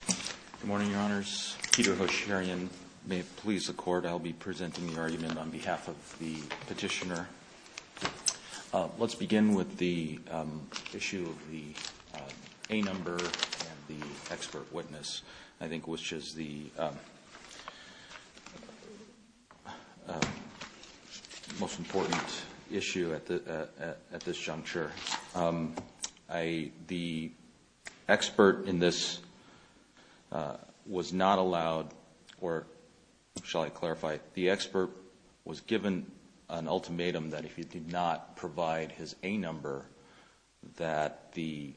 Good morning, Your Honors. Peter Hosharian. May it please the Court, I'll be presenting the argument on behalf of the petitioner. Let's begin with the issue of the A number and the expert witness, I think, which is the most important issue at this juncture. The expert in this was not allowed, or shall I clarify, the expert was given an ultimatum that if he did not provide his A number that the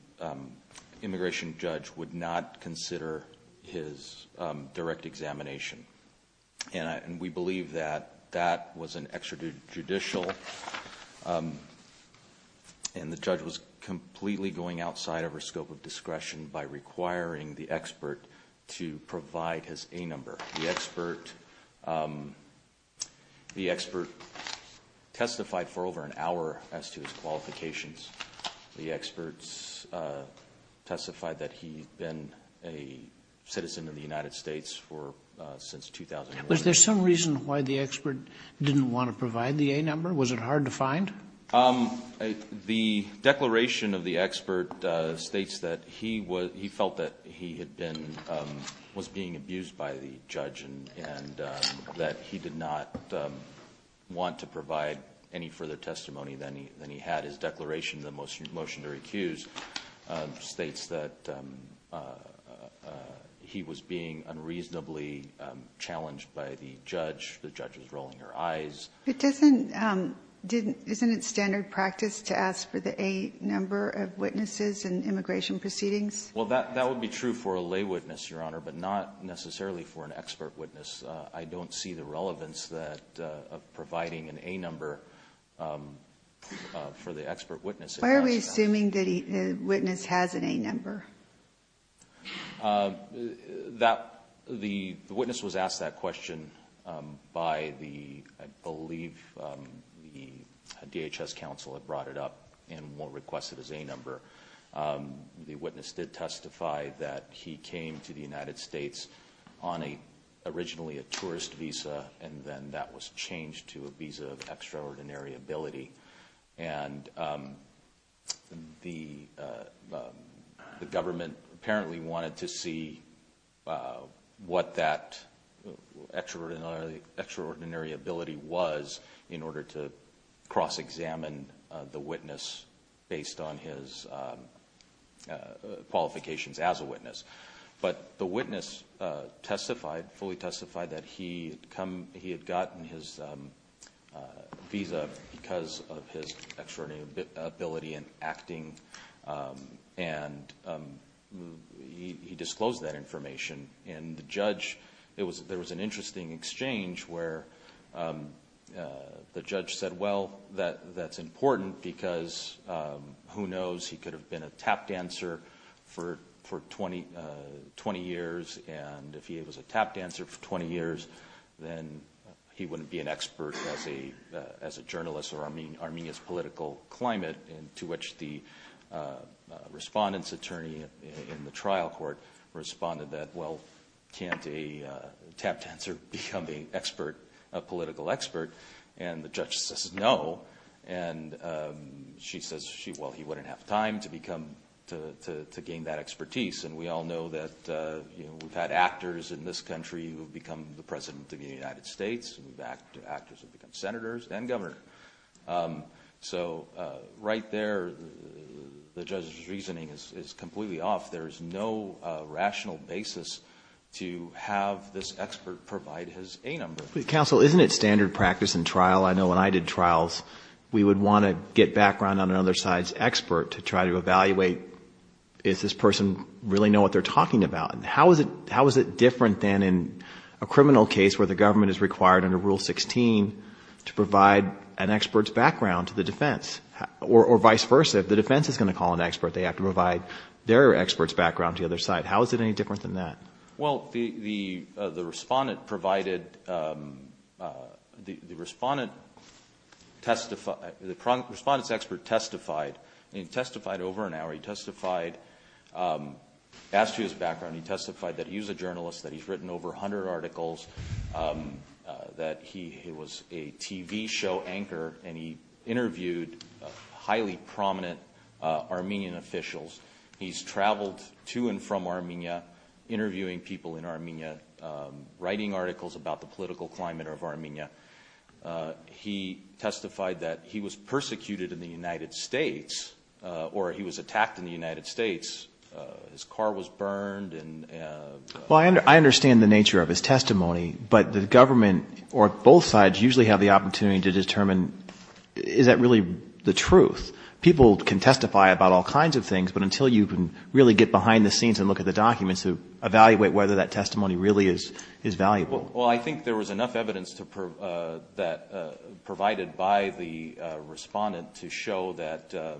immigration judge would not consider his direct examination. And we believe that that was an extrajudicial, and the judge was completely going outside of her scope of discretion by requiring the expert to provide his A number. The expert testified for over an hour as to his qualifications. The experts testified that he'd been a citizen of the United States since 2001. Was there some reason why the expert didn't want to provide the A number? Was it hard to find? The declaration of the expert states that he felt that he was being abused by the judge and that he did not want to provide any further testimony than he had. His declaration in the motion to recuse states that he was being unreasonably challenged by the judge. The judge was rolling her eyes. Isn't it standard practice to ask for the A number of witnesses in immigration proceedings? Well, that would be true for a lay witness, Your Honor, but not necessarily for an expert witness. I don't see the relevance of providing an A number for the expert witness. Why are we assuming that a witness has an A number? The witness was asked that question by, I believe, the DHS counsel had brought it up and requested his A number. The witness did testify that he came to the United States on originally a tourist visa, and then that was changed to a visa of extraordinary ability. The government apparently wanted to see what that extraordinary ability was in order to cross-examine the witness based on his qualifications as a witness. The witness fully testified that he had gotten his visa because of his extraordinary ability in acting, and he disclosed that information. There was an interesting exchange where the judge said, well, that's important because who knows? He could have been a tap dancer for 20 years, and if he was a tap dancer for 20 years, then he wouldn't be an expert as a journalist or Armenia's political climate, to which the respondent's attorney in the trial court responded that, well, can't a tap dancer become a political expert? And the judge says no, and she says, well, he wouldn't have time to gain that expertise. And we all know that we've had actors in this country who have become the President of the United States, actors who have become Senators and Governors. So right there, the judge's reasoning is completely off. There is no rational basis to have this expert provide his A number. Counsel, isn't it standard practice in trial? I know when I did trials, we would want to get background on another side's expert to try to evaluate, does this person really know what they're talking about? How is it different than in a criminal case where the government is required under Rule 16 to provide an expert's background to the defense? Or vice versa, if the defense is going to call an expert, they have to provide their expert's background to the other side. How is it any different than that? Well, the respondent provided, the respondent testified, the respondent's expert testified. He testified over an hour. He testified, asked for his background. He testified that he was a journalist, that he's written over 100 articles, that he was a TV show anchor, and he interviewed highly prominent Armenian officials. He's traveled to and from Armenia, interviewing people in Armenia, writing articles about the political climate of Armenia. He testified that he was persecuted in the United States, or he was attacked in the United States. His car was burned. Well, I understand the nature of his testimony, but the government or both sides usually have the opportunity to determine, is that really the truth? People can testify about all kinds of things, but until you can really get behind the scenes and look at the documents to evaluate whether that testimony really is valuable. Well, I think there was enough evidence that provided by the respondent to show that, to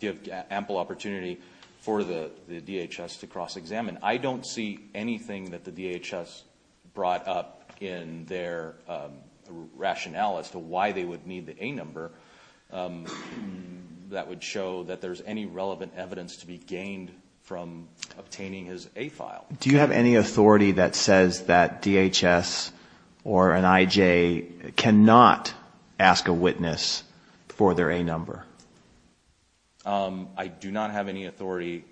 give ample opportunity for the DHS to cross-examine. I don't see anything that the DHS brought up in their rationale as to why they would need the A number that would show that there's any relevant evidence to be gained from obtaining his A file. Do you have any authority that says that DHS or an IJ cannot ask a witness for their A number? I do not have any authority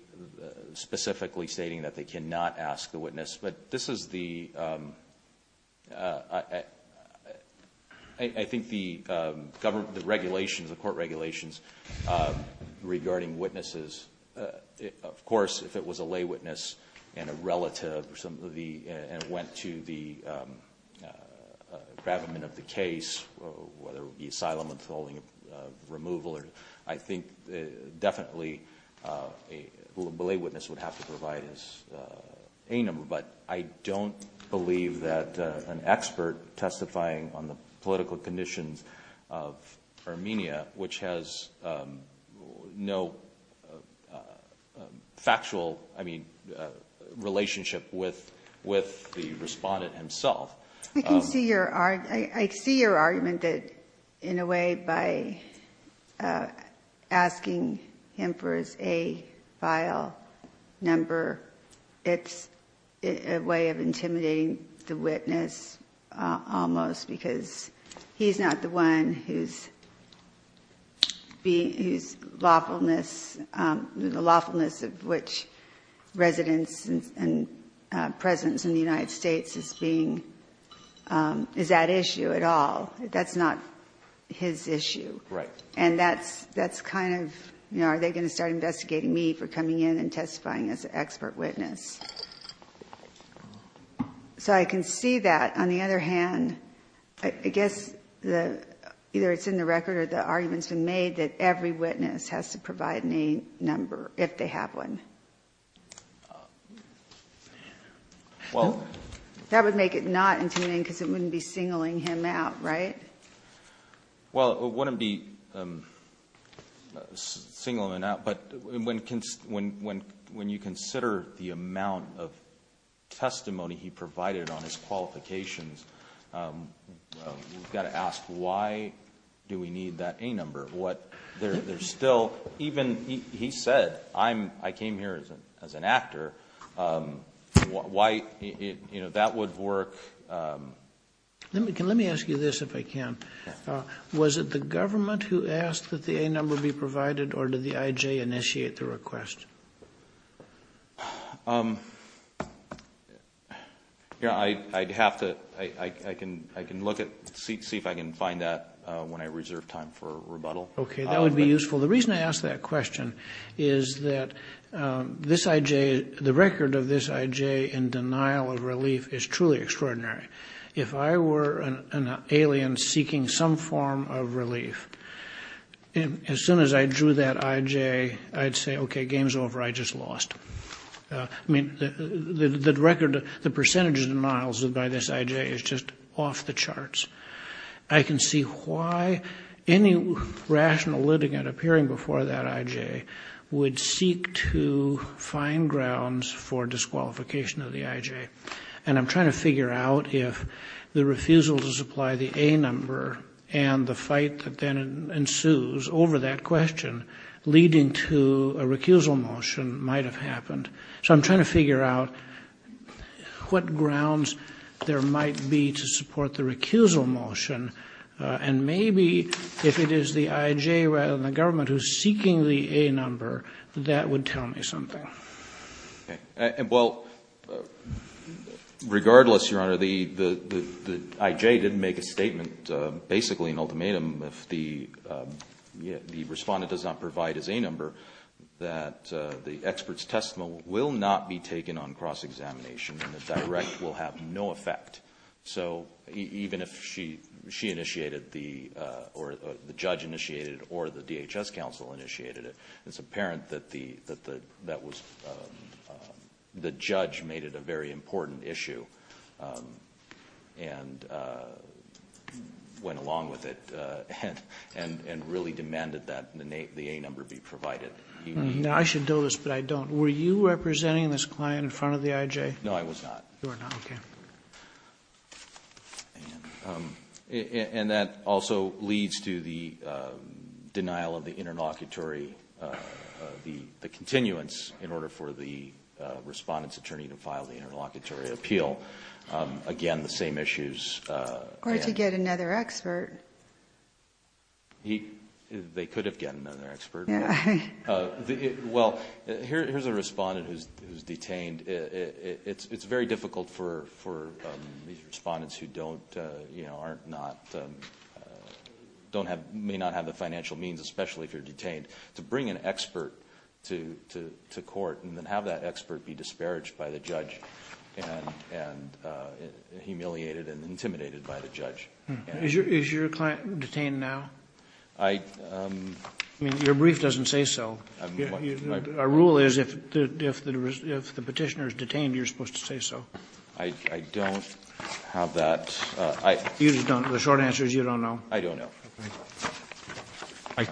specifically stating that they cannot ask the witness. But this is the, I think the government, the regulations, the court regulations regarding witnesses. Of course, if it was a lay witness and a relative and went to the gravamen of the case, whether it be asylum, withholding, removal, I think definitely a lay witness would have to provide his A number. But I don't believe that an expert testifying on the political conditions of Armenia, which has no factual relationship with the respondent himself. I can see your, I see your argument that in a way by asking him for his A file number, it's a way of intimidating the witness almost because he's not the one who's being, who's lawfulness, the lawfulness of which residents and presence in the United States is being, is that issue at all? That's not his issue. Right. And that's, that's kind of, you know, are they going to start investigating me for coming in and testifying as an expert witness? So I can see that. On the other hand, I guess the, either it's in the record or the arguments and made that every witness has to provide me number if they have one. Well, that would make it not intimidating because it wouldn't be singling him out. Right. Well, it wouldn't be singling him out. But when, when, when, when you consider the amount of testimony he provided on his qualifications, you've got to ask, why do we need that A number? What, there's still, even he said, I'm, I came here as an, as an actor. Why, you know, that would work. Let me, let me ask you this, if I can. Was it the government who asked that the A number be provided or did the IJ initiate the request? I'd have to, I can, I can look at, see if I can find that when I reserve time for rebuttal. Okay. That would be useful. The reason I ask that question is that this IJ, the record of this IJ in denial of relief is truly extraordinary. If I were an alien seeking some form of relief, as soon as I drew that IJ, I'd say, okay, game's over, I just lost. I mean, the record, the percentage of denials by this IJ is just off the charts. I can see why any rational litigant appearing before that IJ would seek to find grounds for disqualification of the IJ. And I'm trying to figure out if the refusal to supply the A number and the fight that then ensues over that question, leading to a recusal motion, might have happened. So I'm trying to figure out what grounds there might be to support the recusal motion. And maybe if it is the IJ rather than the government who's seeking the A number, that would tell me something. Okay. Well, regardless, Your Honor, the IJ didn't make a statement, basically an ultimatum, if the respondent does not provide his A number, that the expert's testimony will not be taken on cross-examination and the direct will have no effect. So even if she initiated or the judge initiated or the DHS counsel initiated it, it's apparent that the judge made it a very important issue and went along with it and really demanded that the A number be provided. Now, I should know this, but I don't. Were you representing this client in front of the IJ? No, I was not. You were not. Okay. And that also leads to the denial of the interlocutory, the continuance in order for the respondent's attorney to file the interlocutory appeal. Again, the same issues. Or to get another expert. They could have gotten another expert. Yeah. Well, here's a respondent who's detained. It's very difficult for these respondents who may not have the financial means, especially if you're detained, to bring an expert to court and then have that expert be disparaged by the judge and humiliated and intimidated by the judge. Is your client detained now? I mean, your brief doesn't say so. Our rule is if the Petitioner is detained, you're supposed to say so. I don't have that. The short answer is you don't know. I don't know.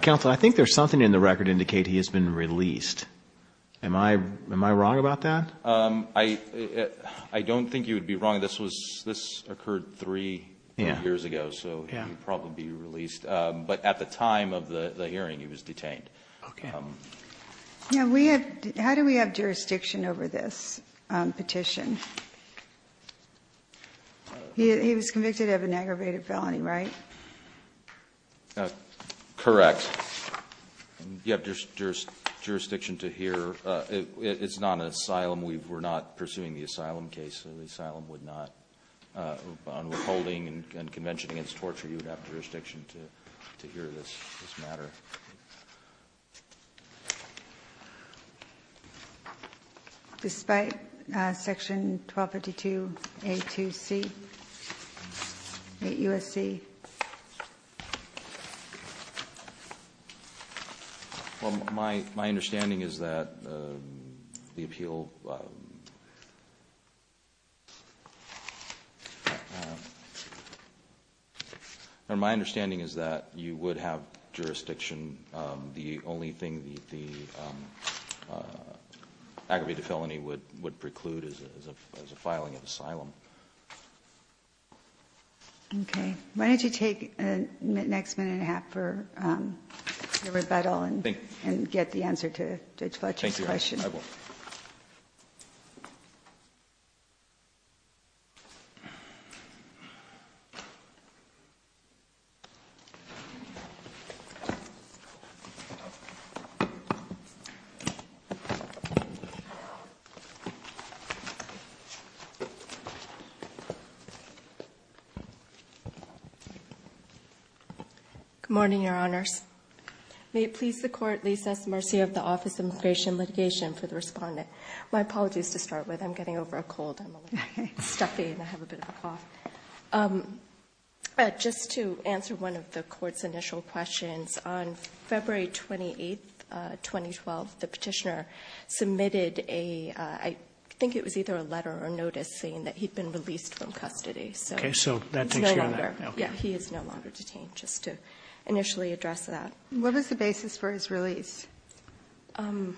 Counsel, I think there's something in the record indicating he has been released. Am I wrong about that? I don't think you would be wrong. This occurred three years ago, so he would probably be released. But at the time of the hearing, he was detained. Okay. How do we have jurisdiction over this petition? He was convicted of an aggravated felony, right? Correct. You have jurisdiction to hear. It's not an asylum. We're not pursuing the asylum case. The asylum would not, on withholding and convention against torture, you would have jurisdiction to hear this matter. Despite Section 1252A2C, 8 U.S.C.? Well, my understanding is that the appeal or my understanding is that you would have jurisdiction. The only thing the aggravated felony would preclude is a filing of asylum. Okay. Why don't you take the next minute and a half for the rebuttal and get the answer to Judge Fletcher's question. Thank you, Your Honor. Good morning, Your Honors. May it please the Court, lease us mercy of the Office of Immigration and Litigation for the respondent. My apologies to start with. I'm getting over a cold. I'm a little stuffy and I have a bit of a cough. Just to answer one of the Court's initial questions, on February 28, 2012, the petitioner submitted a ‑‑ I think it was either a letter or notice saying that he'd been released from custody. Okay. So that takes care of that. Yeah. He is no longer detained, just to initially address that. What was the basis for his release? To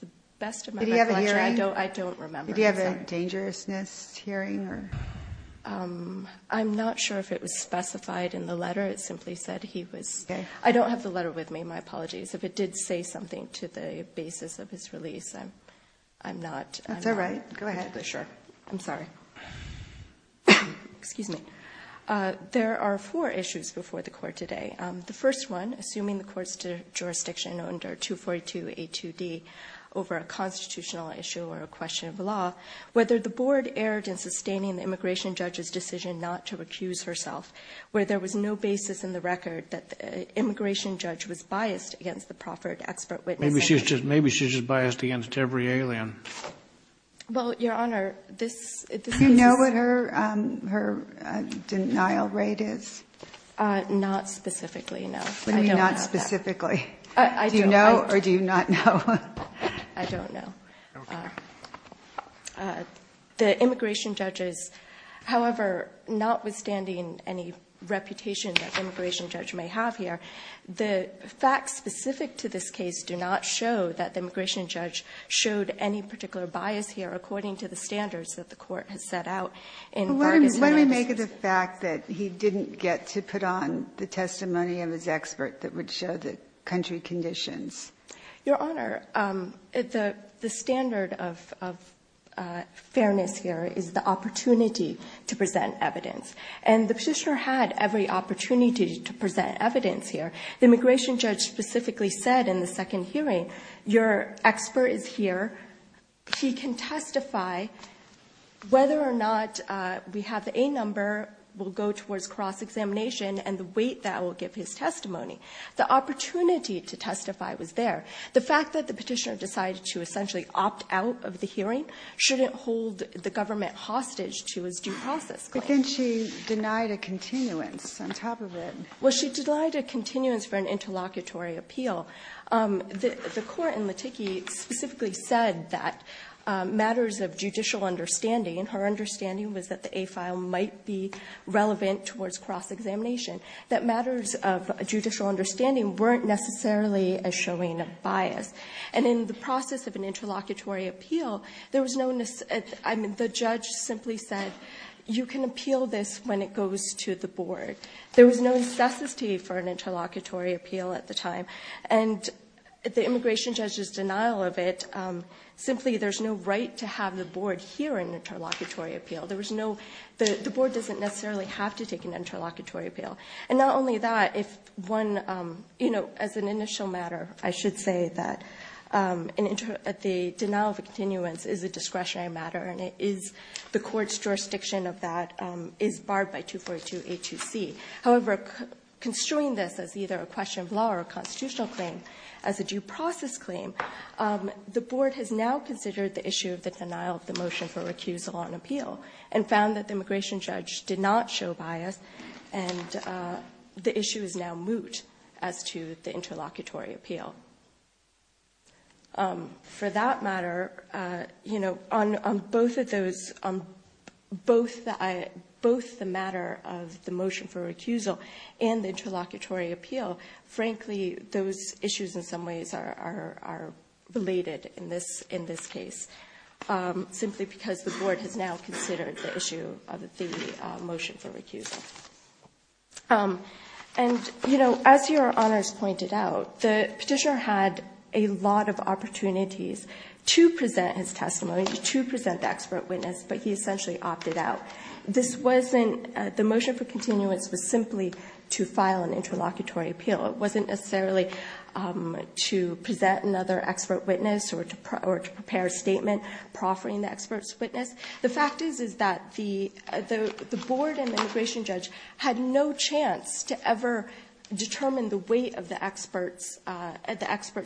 the best of my recollection, I don't remember. Did he have a dangerousness hearing? I'm not sure if it was specified in the letter. It simply said he was ‑‑ I don't have the letter with me. My apologies. If it did say something to the basis of his release, I'm not ‑‑ That's all right. Go ahead. Sure. I'm sorry. Excuse me. There are four issues before the Court today. The first one, assuming the Court's jurisdiction under 242A2D over a constitutional issue or a question of law, whether the Board erred in sustaining the immigration judge's decision not to accuse herself, where there was no basis in the record that the immigration judge was biased against the proffered expert witness. Maybe she was just biased against every alien. Well, Your Honor, this is ‑‑ Do you know what her denial rate is? Not specifically, no. What do you mean, not specifically? Do you know or do you not know? I don't know. Okay. The immigration judge is, however, notwithstanding any reputation that the immigration judge may have here, the facts specific to this case do not show that the immigration judge showed any particular bias here according to the standards that the Court has set out in Part I. What do we make of the fact that he didn't get to put on the testimony of his expert that would show the country conditions? Your Honor, the standard of fairness here is the opportunity to present evidence. And the petitioner had every opportunity to present evidence here. The immigration judge specifically said in the second hearing, your expert is here, he can testify, whether or not we have the A number will go towards cross-examination and the weight that will give his testimony. The opportunity to testify was there. The fact that the petitioner decided to essentially opt out of the hearing shouldn't hold the government hostage to his due process claim. But then she denied a continuance on top of it. Well, she denied a continuance for an interlocutory appeal. The Court in Laticki specifically said that matters of judicial understanding and her understanding was that the A file might be relevant towards cross-examination, that matters of judicial understanding weren't necessarily showing a bias. And in the process of an interlocutory appeal, the judge simply said, you can appeal this when it goes to the board. There was no necessity for an interlocutory appeal at the time. And the immigration judge's denial of it, simply there's no right to have the board hear an interlocutory appeal. The board doesn't necessarily have to take an interlocutory appeal. And not only that, if one, you know, as an initial matter, I should say that the denial of a continuance is a discretionary matter, and it is the court's jurisdiction of that is barred by 242A2C. However, construing this as either a question of law or a constitutional claim as a due process claim, the board has now considered the issue of the denial of the motion for recusal on appeal and found that the immigration judge did not show bias. And the issue is now moot as to the interlocutory appeal. For that matter, you know, on both of those, on both the matter of the motion for recusal and the interlocutory appeal, frankly, those issues in some ways are related in this case, simply because the board has now considered the issue of the motion for recusal. And, you know, as Your Honors pointed out, the petitioner had a lot of opportunities to present his testimony, to present the expert witness, but he essentially opted out. This wasn't the motion for continuance was simply to file an interlocutory appeal. It wasn't necessarily to present another expert witness or to prepare a statement proffering the expert's witness. The fact is that the board and the immigration judge had no chance to ever determine the weight of the expert's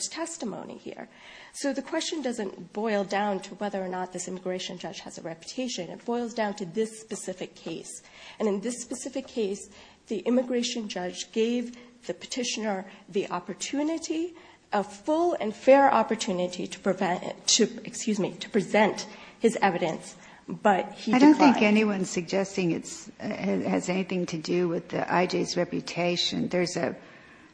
testimony here. So the question doesn't boil down to whether or not this immigration judge has a reputation. It boils down to this specific case. And in this specific case, the immigration judge gave the petitioner the opportunity, a full and fair opportunity to present his evidence, but he declined. I don't think anyone's suggesting it has anything to do with the IJ's reputation.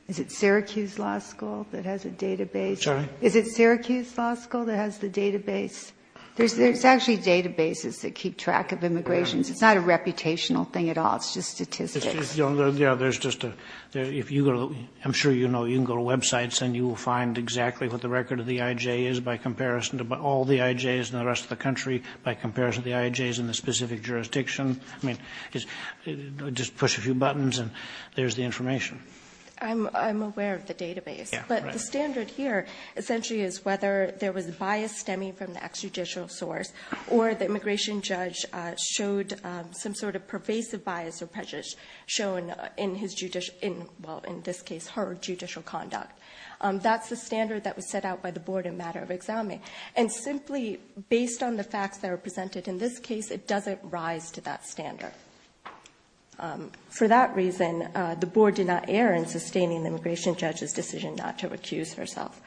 Is it Syracuse Law School that has a database? Sorry? Is it Syracuse Law School that has the database? There's actually databases that keep track of immigrations. It's not a reputational thing at all. It's just statistics. Yeah, there's just a, if you go to, I'm sure you know, you can go to websites and you will find exactly what the record of the IJ is by comparison to all the IJs in the rest of the country by comparison to the IJs in the specific jurisdiction. I mean, just push a few buttons and there's the information. I'm aware of the database. But the standard here essentially is whether there was bias stemming from the extrajudicial source or the immigration judge showed some sort of pervasive bias or prejudice shown in his judicial, well, in this case, her judicial conduct. That's the standard that was set out by the board in matter of examining. And simply based on the facts that are presented in this case, it doesn't rise to that standard. For that reason, the board did not err in sustaining the immigration judge's decision not to accuse herself.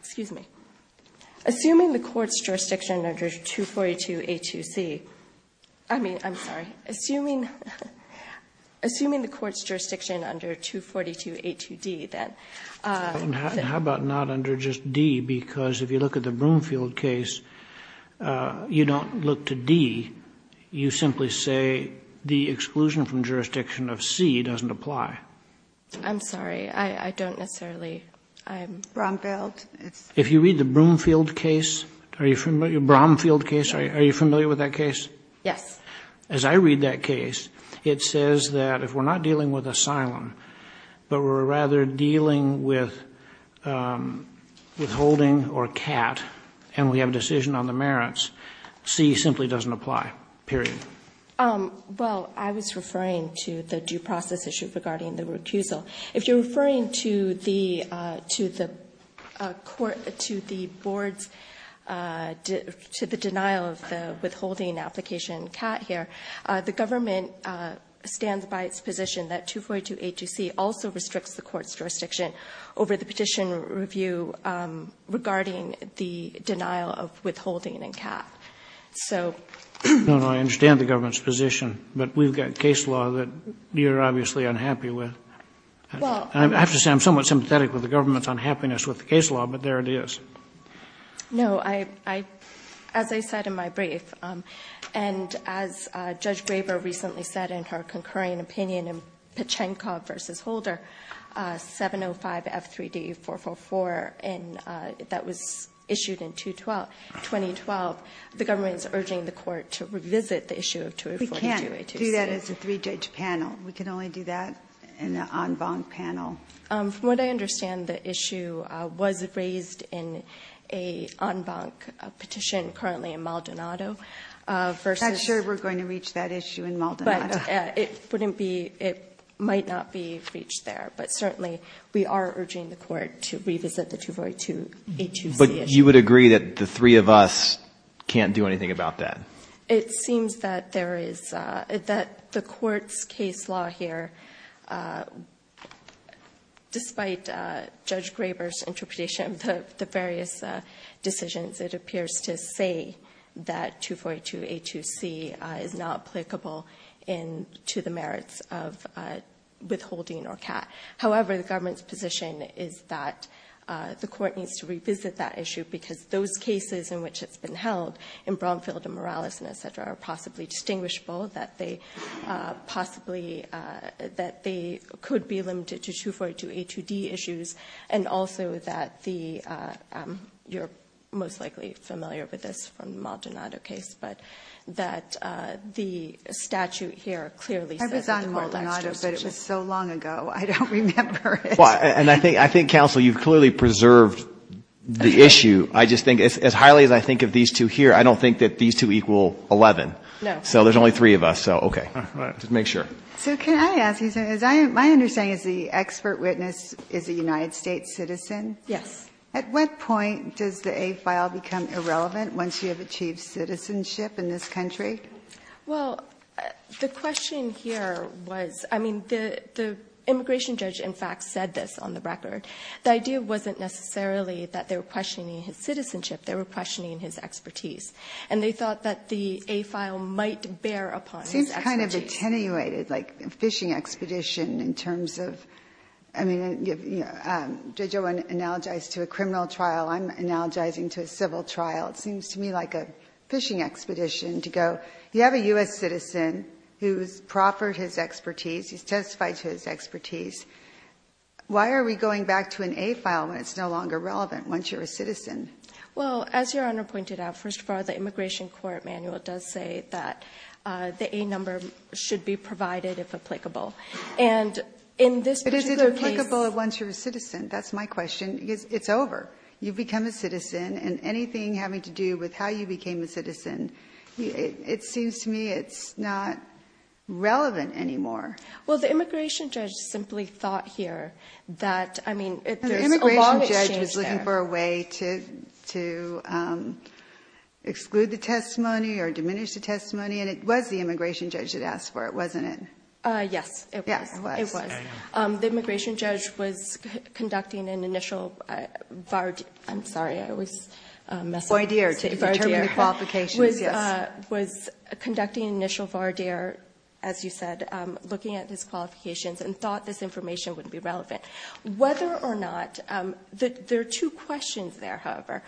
Excuse me. Assuming the court's jurisdiction under 242A2C, I mean, I'm sorry. Assuming the court's jurisdiction under 242A2D, then. How about not under just D? Because if you look at the Broomfield case, you don't look to D. You simply say the exclusion from jurisdiction of C doesn't apply. I'm sorry. I don't necessarily. Bromfield. If you read the Broomfield case, are you familiar? Bromfield case. Are you familiar with that case? Yes. As I read that case, it says that if we're not dealing with asylum, but we're rather dealing with withholding or CAT, and we have a decision on the merits, C simply doesn't apply, period. Well, I was referring to the due process issue regarding the recusal. If you're referring to the court, to the board's, to the denial of the withholding application in CAT here, the government stands by its position that 242A2C also restricts the court's jurisdiction over the petition review regarding the denial of withholding in CAT. So. No, no. I understand the government's position. But we've got case law that you're obviously unhappy with. Well. I have to say I'm somewhat sympathetic with the government's unhappiness with the case law, but there it is. No. As I said in my brief, and as Judge Graber recently said in her concurring opinion in Pachenkov v. Holder, 705F3D444, and that was issued in 2012, the government is urging the court to revisit the issue of 242A2C. Do that as a three-judge panel. We can only do that in an en banc panel. From what I understand, the issue was raised in an en banc petition currently in Maldonado versus. I'm not sure we're going to reach that issue in Maldonado. But it wouldn't be, it might not be reached there. But certainly we are urging the court to revisit the 242A2C issue. But you would agree that the three of us can't do anything about that? It seems that there is, that the court's case law here, despite Judge Graber's interpretation of the various decisions, it appears to say that 242A2C is not applicable to the merits of withholding or CAT. However, the government's position is that the court needs to revisit that issue because those cases in which it's been held, in Bromfield and Morales and et cetera, are possibly distinguishable, that they possibly, that they could be limited to 242A2D issues, and also that the, you're most likely familiar with this from the Maldonado case, but that the statute here clearly says. I was on Maldonado, but it was so long ago I don't remember it. Well, and I think counsel, you've clearly preserved the issue. I just think, as highly as I think of these two here, I don't think that these two equal 11. No. So there's only three of us, so okay. All right. Just to make sure. So can I ask you something? My understanding is the expert witness is a United States citizen? Yes. At what point does the A file become irrelevant once you have achieved citizenship in this country? Well, the question here was, I mean, the immigration judge, in fact, said this on the record. The idea wasn't necessarily that they were questioning his citizenship. They were questioning his expertise. And they thought that the A file might bear upon his expertise. It seems kind of attenuated, like a fishing expedition in terms of, I mean, Judge Owen analogized to a criminal trial. I'm analogizing to a civil trial. It seems to me like a fishing expedition to go, you have a U.S. citizen who's proffered his expertise, he's testified to his expertise. Why are we going back to an A file when it's no longer relevant once you're a citizen? Well, as Your Honor pointed out, first of all, the immigration court manual does say that the A number should be provided if applicable. And in this particular case. But is it applicable once you're a citizen? That's my question. It's over. You've become a citizen. And anything having to do with how you became a citizen, it seems to me it's not relevant anymore. Well, the immigration judge simply thought here that, I mean, there's a long exchange there. The immigration judge was looking for a way to exclude the testimony or diminish the testimony. And it was the immigration judge that asked for it, wasn't it? Yes, it was. It was. The immigration judge was conducting an initial, I'm sorry, I always mess up. Was conducting an initial, as you said, looking at his qualifications and thought this information wouldn't be relevant. Whether or not, there are two questions there, however.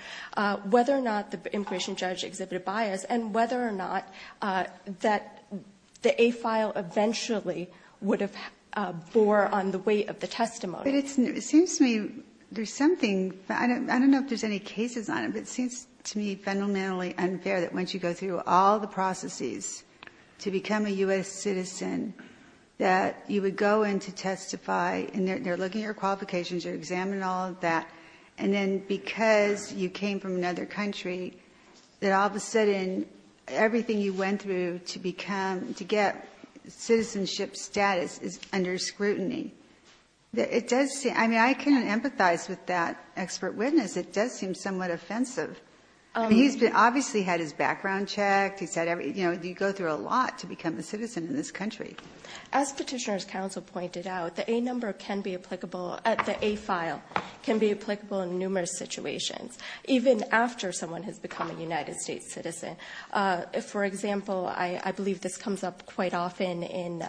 Whether or not the immigration judge exhibited bias. And whether or not that the A file eventually would have bore on the weight of the testimony. But it seems to me there's something. I don't know if there's any cases on it. But it seems to me fundamentally unfair that once you go through all the processes to become a U.S. citizen, that you would go in to testify. And they're looking at your qualifications. They're examining all of that. And then because you came from another country, that all of a sudden everything you went through to become, to get citizenship status is under scrutiny. It does seem, I mean, I can empathize with that expert witness. It does seem somewhat offensive. He's obviously had his background checked. He's had, you know, you go through a lot to become a citizen in this country. As Petitioner's Counsel pointed out, the A number can be applicable, the A file, can be applicable in numerous situations, even after someone has become a United States citizen. For example, I believe this comes up quite often in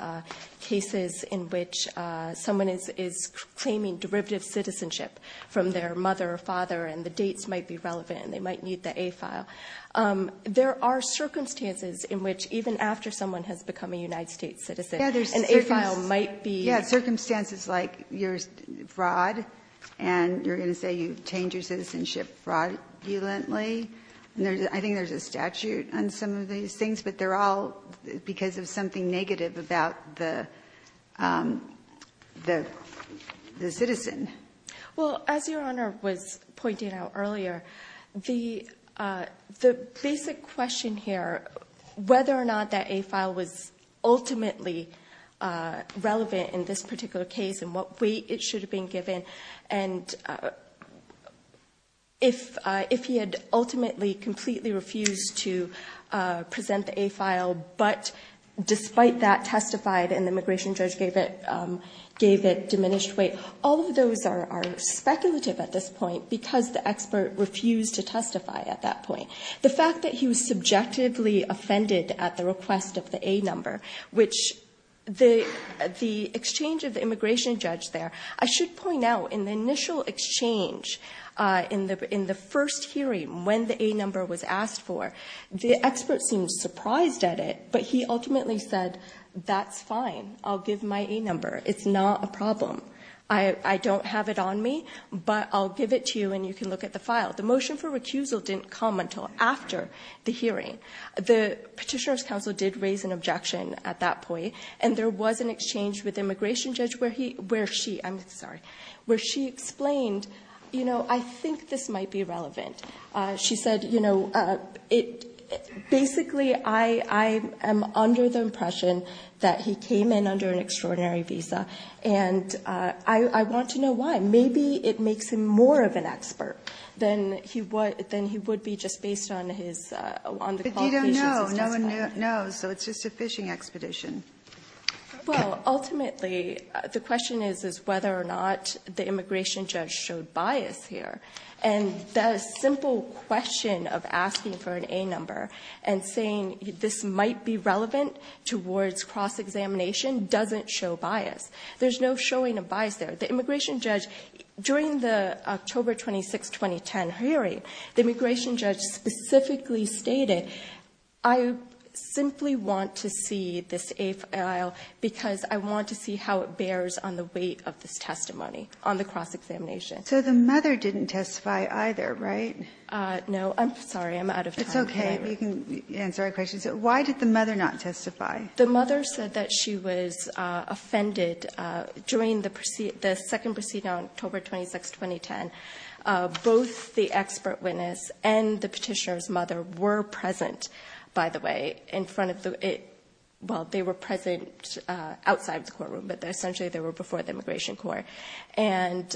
cases in which someone is claiming derivative citizenship from their mother or father, and the dates might be relevant, and they might need the A file. There are circumstances in which even after someone has become a United States citizen, an A file might be. Yeah, circumstances like your fraud, and you're going to say you changed your citizenship fraudulently. I think there's a statute on some of these things, but they're all because of something negative about the citizen. Well, as Your Honor was pointing out earlier, the basic question here, whether or not that A file was ultimately relevant in this particular case and what weight it should have been given, and if he had ultimately completely refused to present the A file, but despite that, testified and the immigration judge gave it diminished weight, all of those are speculative at this point because the expert refused to testify at that point. The fact that he was subjectively offended at the request of the A number, which the exchange of the immigration judge there, I should point out in the initial exchange in the first hearing when the A number was asked for, the expert seemed surprised at it, but he ultimately said, that's fine, I'll give my A number, it's not a problem. I don't have it on me, but I'll give it to you and you can look at the file. The motion for recusal didn't come until after the hearing. The petitioner's counsel did raise an objection at that point and there was an exchange with the immigration judge where she explained, I think this might be relevant. She said, basically, I am under the impression that he came in under an extraordinary visa and I want to know why. Maybe it makes him more of an expert than he would be just based on the qualifications. But you don't know. No one knows. So it's just a fishing expedition. Well, ultimately, the question is whether or not the immigration judge showed bias here. And the simple question of asking for an A number and saying this might be relevant towards cross-examination doesn't show bias. There's no showing of bias there. The immigration judge, during the October 26, 2010 hearing, the immigration judge specifically stated, I simply want to see this A file because I want to see how it bears on the weight of this testimony on the cross-examination. So the mother didn't testify either, right? No. I'm sorry. I'm out of time. It's okay. You can answer our questions. Why did the mother not testify? The mother said that she was offended during the second proceeding on October 26, 2010. Both the expert witness and the petitioner's mother were present, by the way, in front of the ‑‑ well, they were present outside the courtroom, but essentially they were before the immigration court. And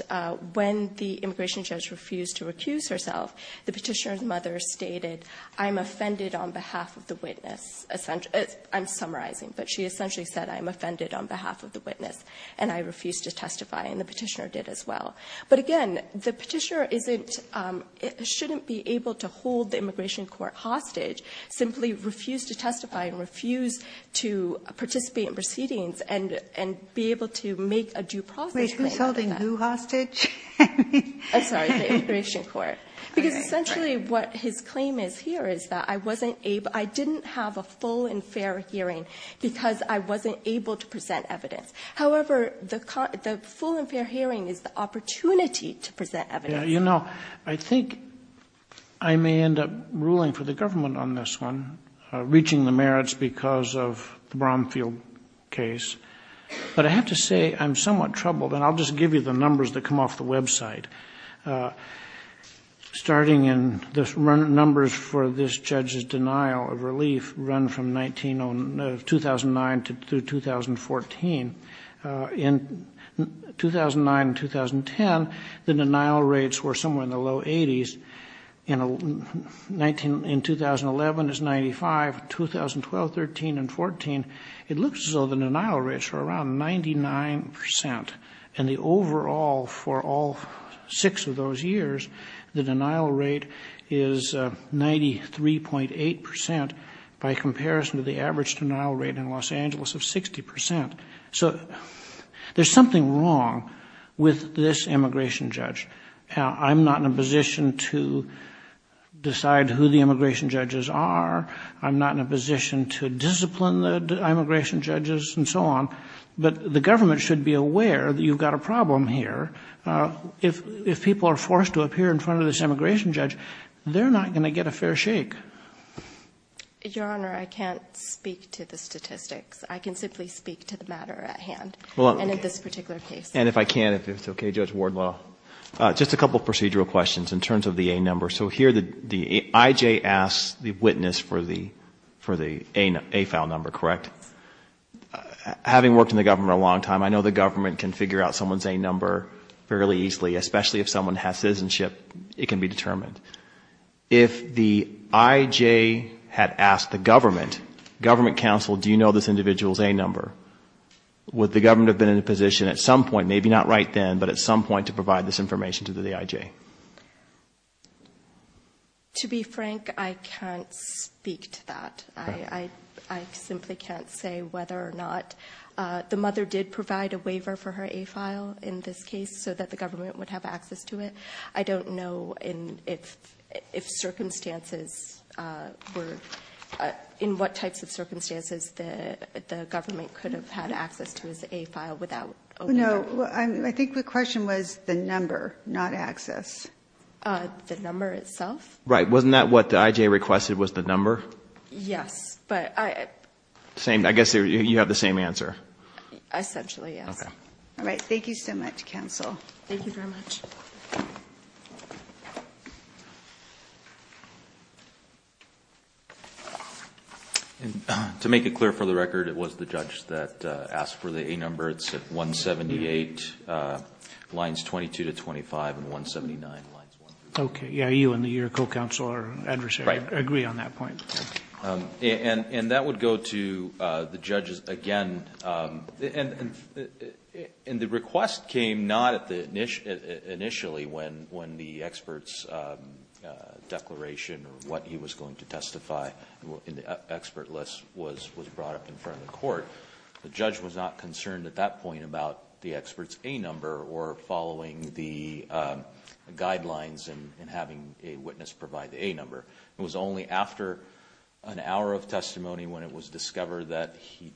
when the immigration judge refused to recuse herself, the petitioner's mother stated, I'm offended on behalf of the witness. I'm summarizing. But she essentially said, I'm offended on behalf of the witness, and I refuse to testify, and the petitioner did as well. But again, the petitioner isn't ‑‑ shouldn't be able to hold the immigration court hostage, simply refuse to testify and refuse to participate in proceedings and be able to make a due process claim. Wait. Who's holding who hostage? I'm sorry. The immigration court. Because essentially what his claim is here is that I didn't have a full and fair hearing because I wasn't able to present evidence. However, the full and fair hearing is the opportunity to present evidence. You know, I think I may end up ruling for the government on this one, reaching the merits because of the Bromfield case. But I have to say I'm somewhat troubled, and I'll just give you the numbers that come off the website. Starting in the numbers for this judge's denial of relief run from 2009 to 2014. In 2009 and 2010, the denial rates were somewhere in the low 80s. In 2011, it's 95. 2012, 13, and 14, it looks as though the denial rates were around 99%. And the overall for all six of those years, the denial rate is 93.8% by comparison to the average denial rate in Los Angeles of 60%. So there's something wrong with this immigration judge. I'm not in a position to decide who the immigration judges are. I'm not in a position to discipline the immigration judges and so on. But the government should be aware that you've got a problem here. If people are forced to appear in front of this immigration judge, they're not going to get a fair shake. Your Honor, I can't speak to the statistics. I can simply speak to the matter at hand and in this particular case. And if I can, if it's okay, Judge Wardlaw, just a couple of procedural questions in terms of the A number. So here the IJ asks the witness for the AFAL number, correct? Having worked in the government a long time, I know the government can figure out someone's A number fairly easily, especially if someone has citizenship, it can be determined. If the IJ had asked the government, government counsel, do you know this individual's A number, would the government have been in a position at some point, maybe not right then, but at some point to provide this information to the IJ? To be frank, I can't speak to that. I simply can't say whether or not the mother did provide a waiver for her AFAL in this case so that the government would have access to it. I don't know in what types of circumstances the government could have had access to his AFAL without opening up. I think the question was the number, not access. The number itself? Right. Wasn't that what the IJ requested was the number? Yes, but I... I guess you have the same answer. Essentially, yes. To make it clear for the record, it was the judge that asked for the A number. It's at 178, lines 22 to 25 and 179. Okay. You and your co-counsel or adversary agree on that point. And that would go to the judges again. And the request came not initially when the expert's declaration or what he was going to testify in the expert list was brought up in front of the court. The judge was not concerned at that point about the expert's A number or following the an hour of testimony when it was discovered that the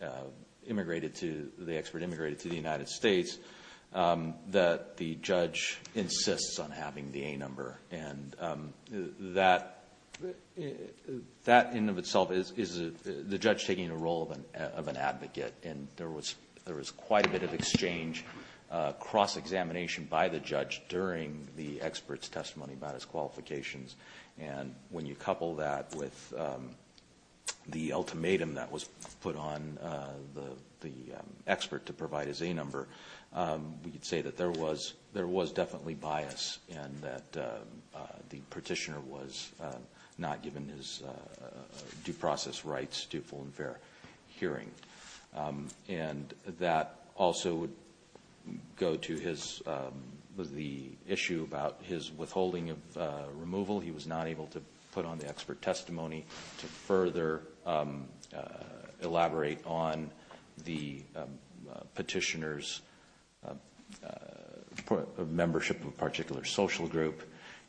expert immigrated to the United States that the judge insists on having the A number. That in and of itself is the judge taking the role of an advocate. There was quite a bit of exchange, cross-examination by the judge during the expert's testimony about his qualifications. And when you couple that with the ultimatum that was put on the expert to provide his A number, we could say that there was definitely bias and that the petitioner was not given his due process rights to full and fair hearing. And that also would go to the issue about his withholding of removal. He was not able to put on the expert testimony to further elaborate on the petitioner's membership of a particular social group.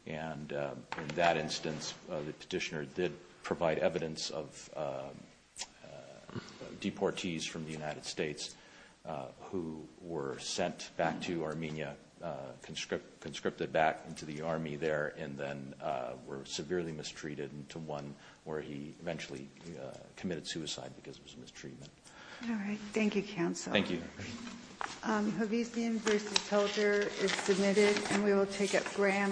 And in that instance, the petitioner did provide evidence of deportees from the United States who were sent back to Armenia, conscripted back into the army there, and then were severely mistreated to one where he eventually committed suicide because of his mistreatment. All right. Thank you, counsel. Thank you. Havisian v. Helger is submitted, and we will take it Graham v. Harrington.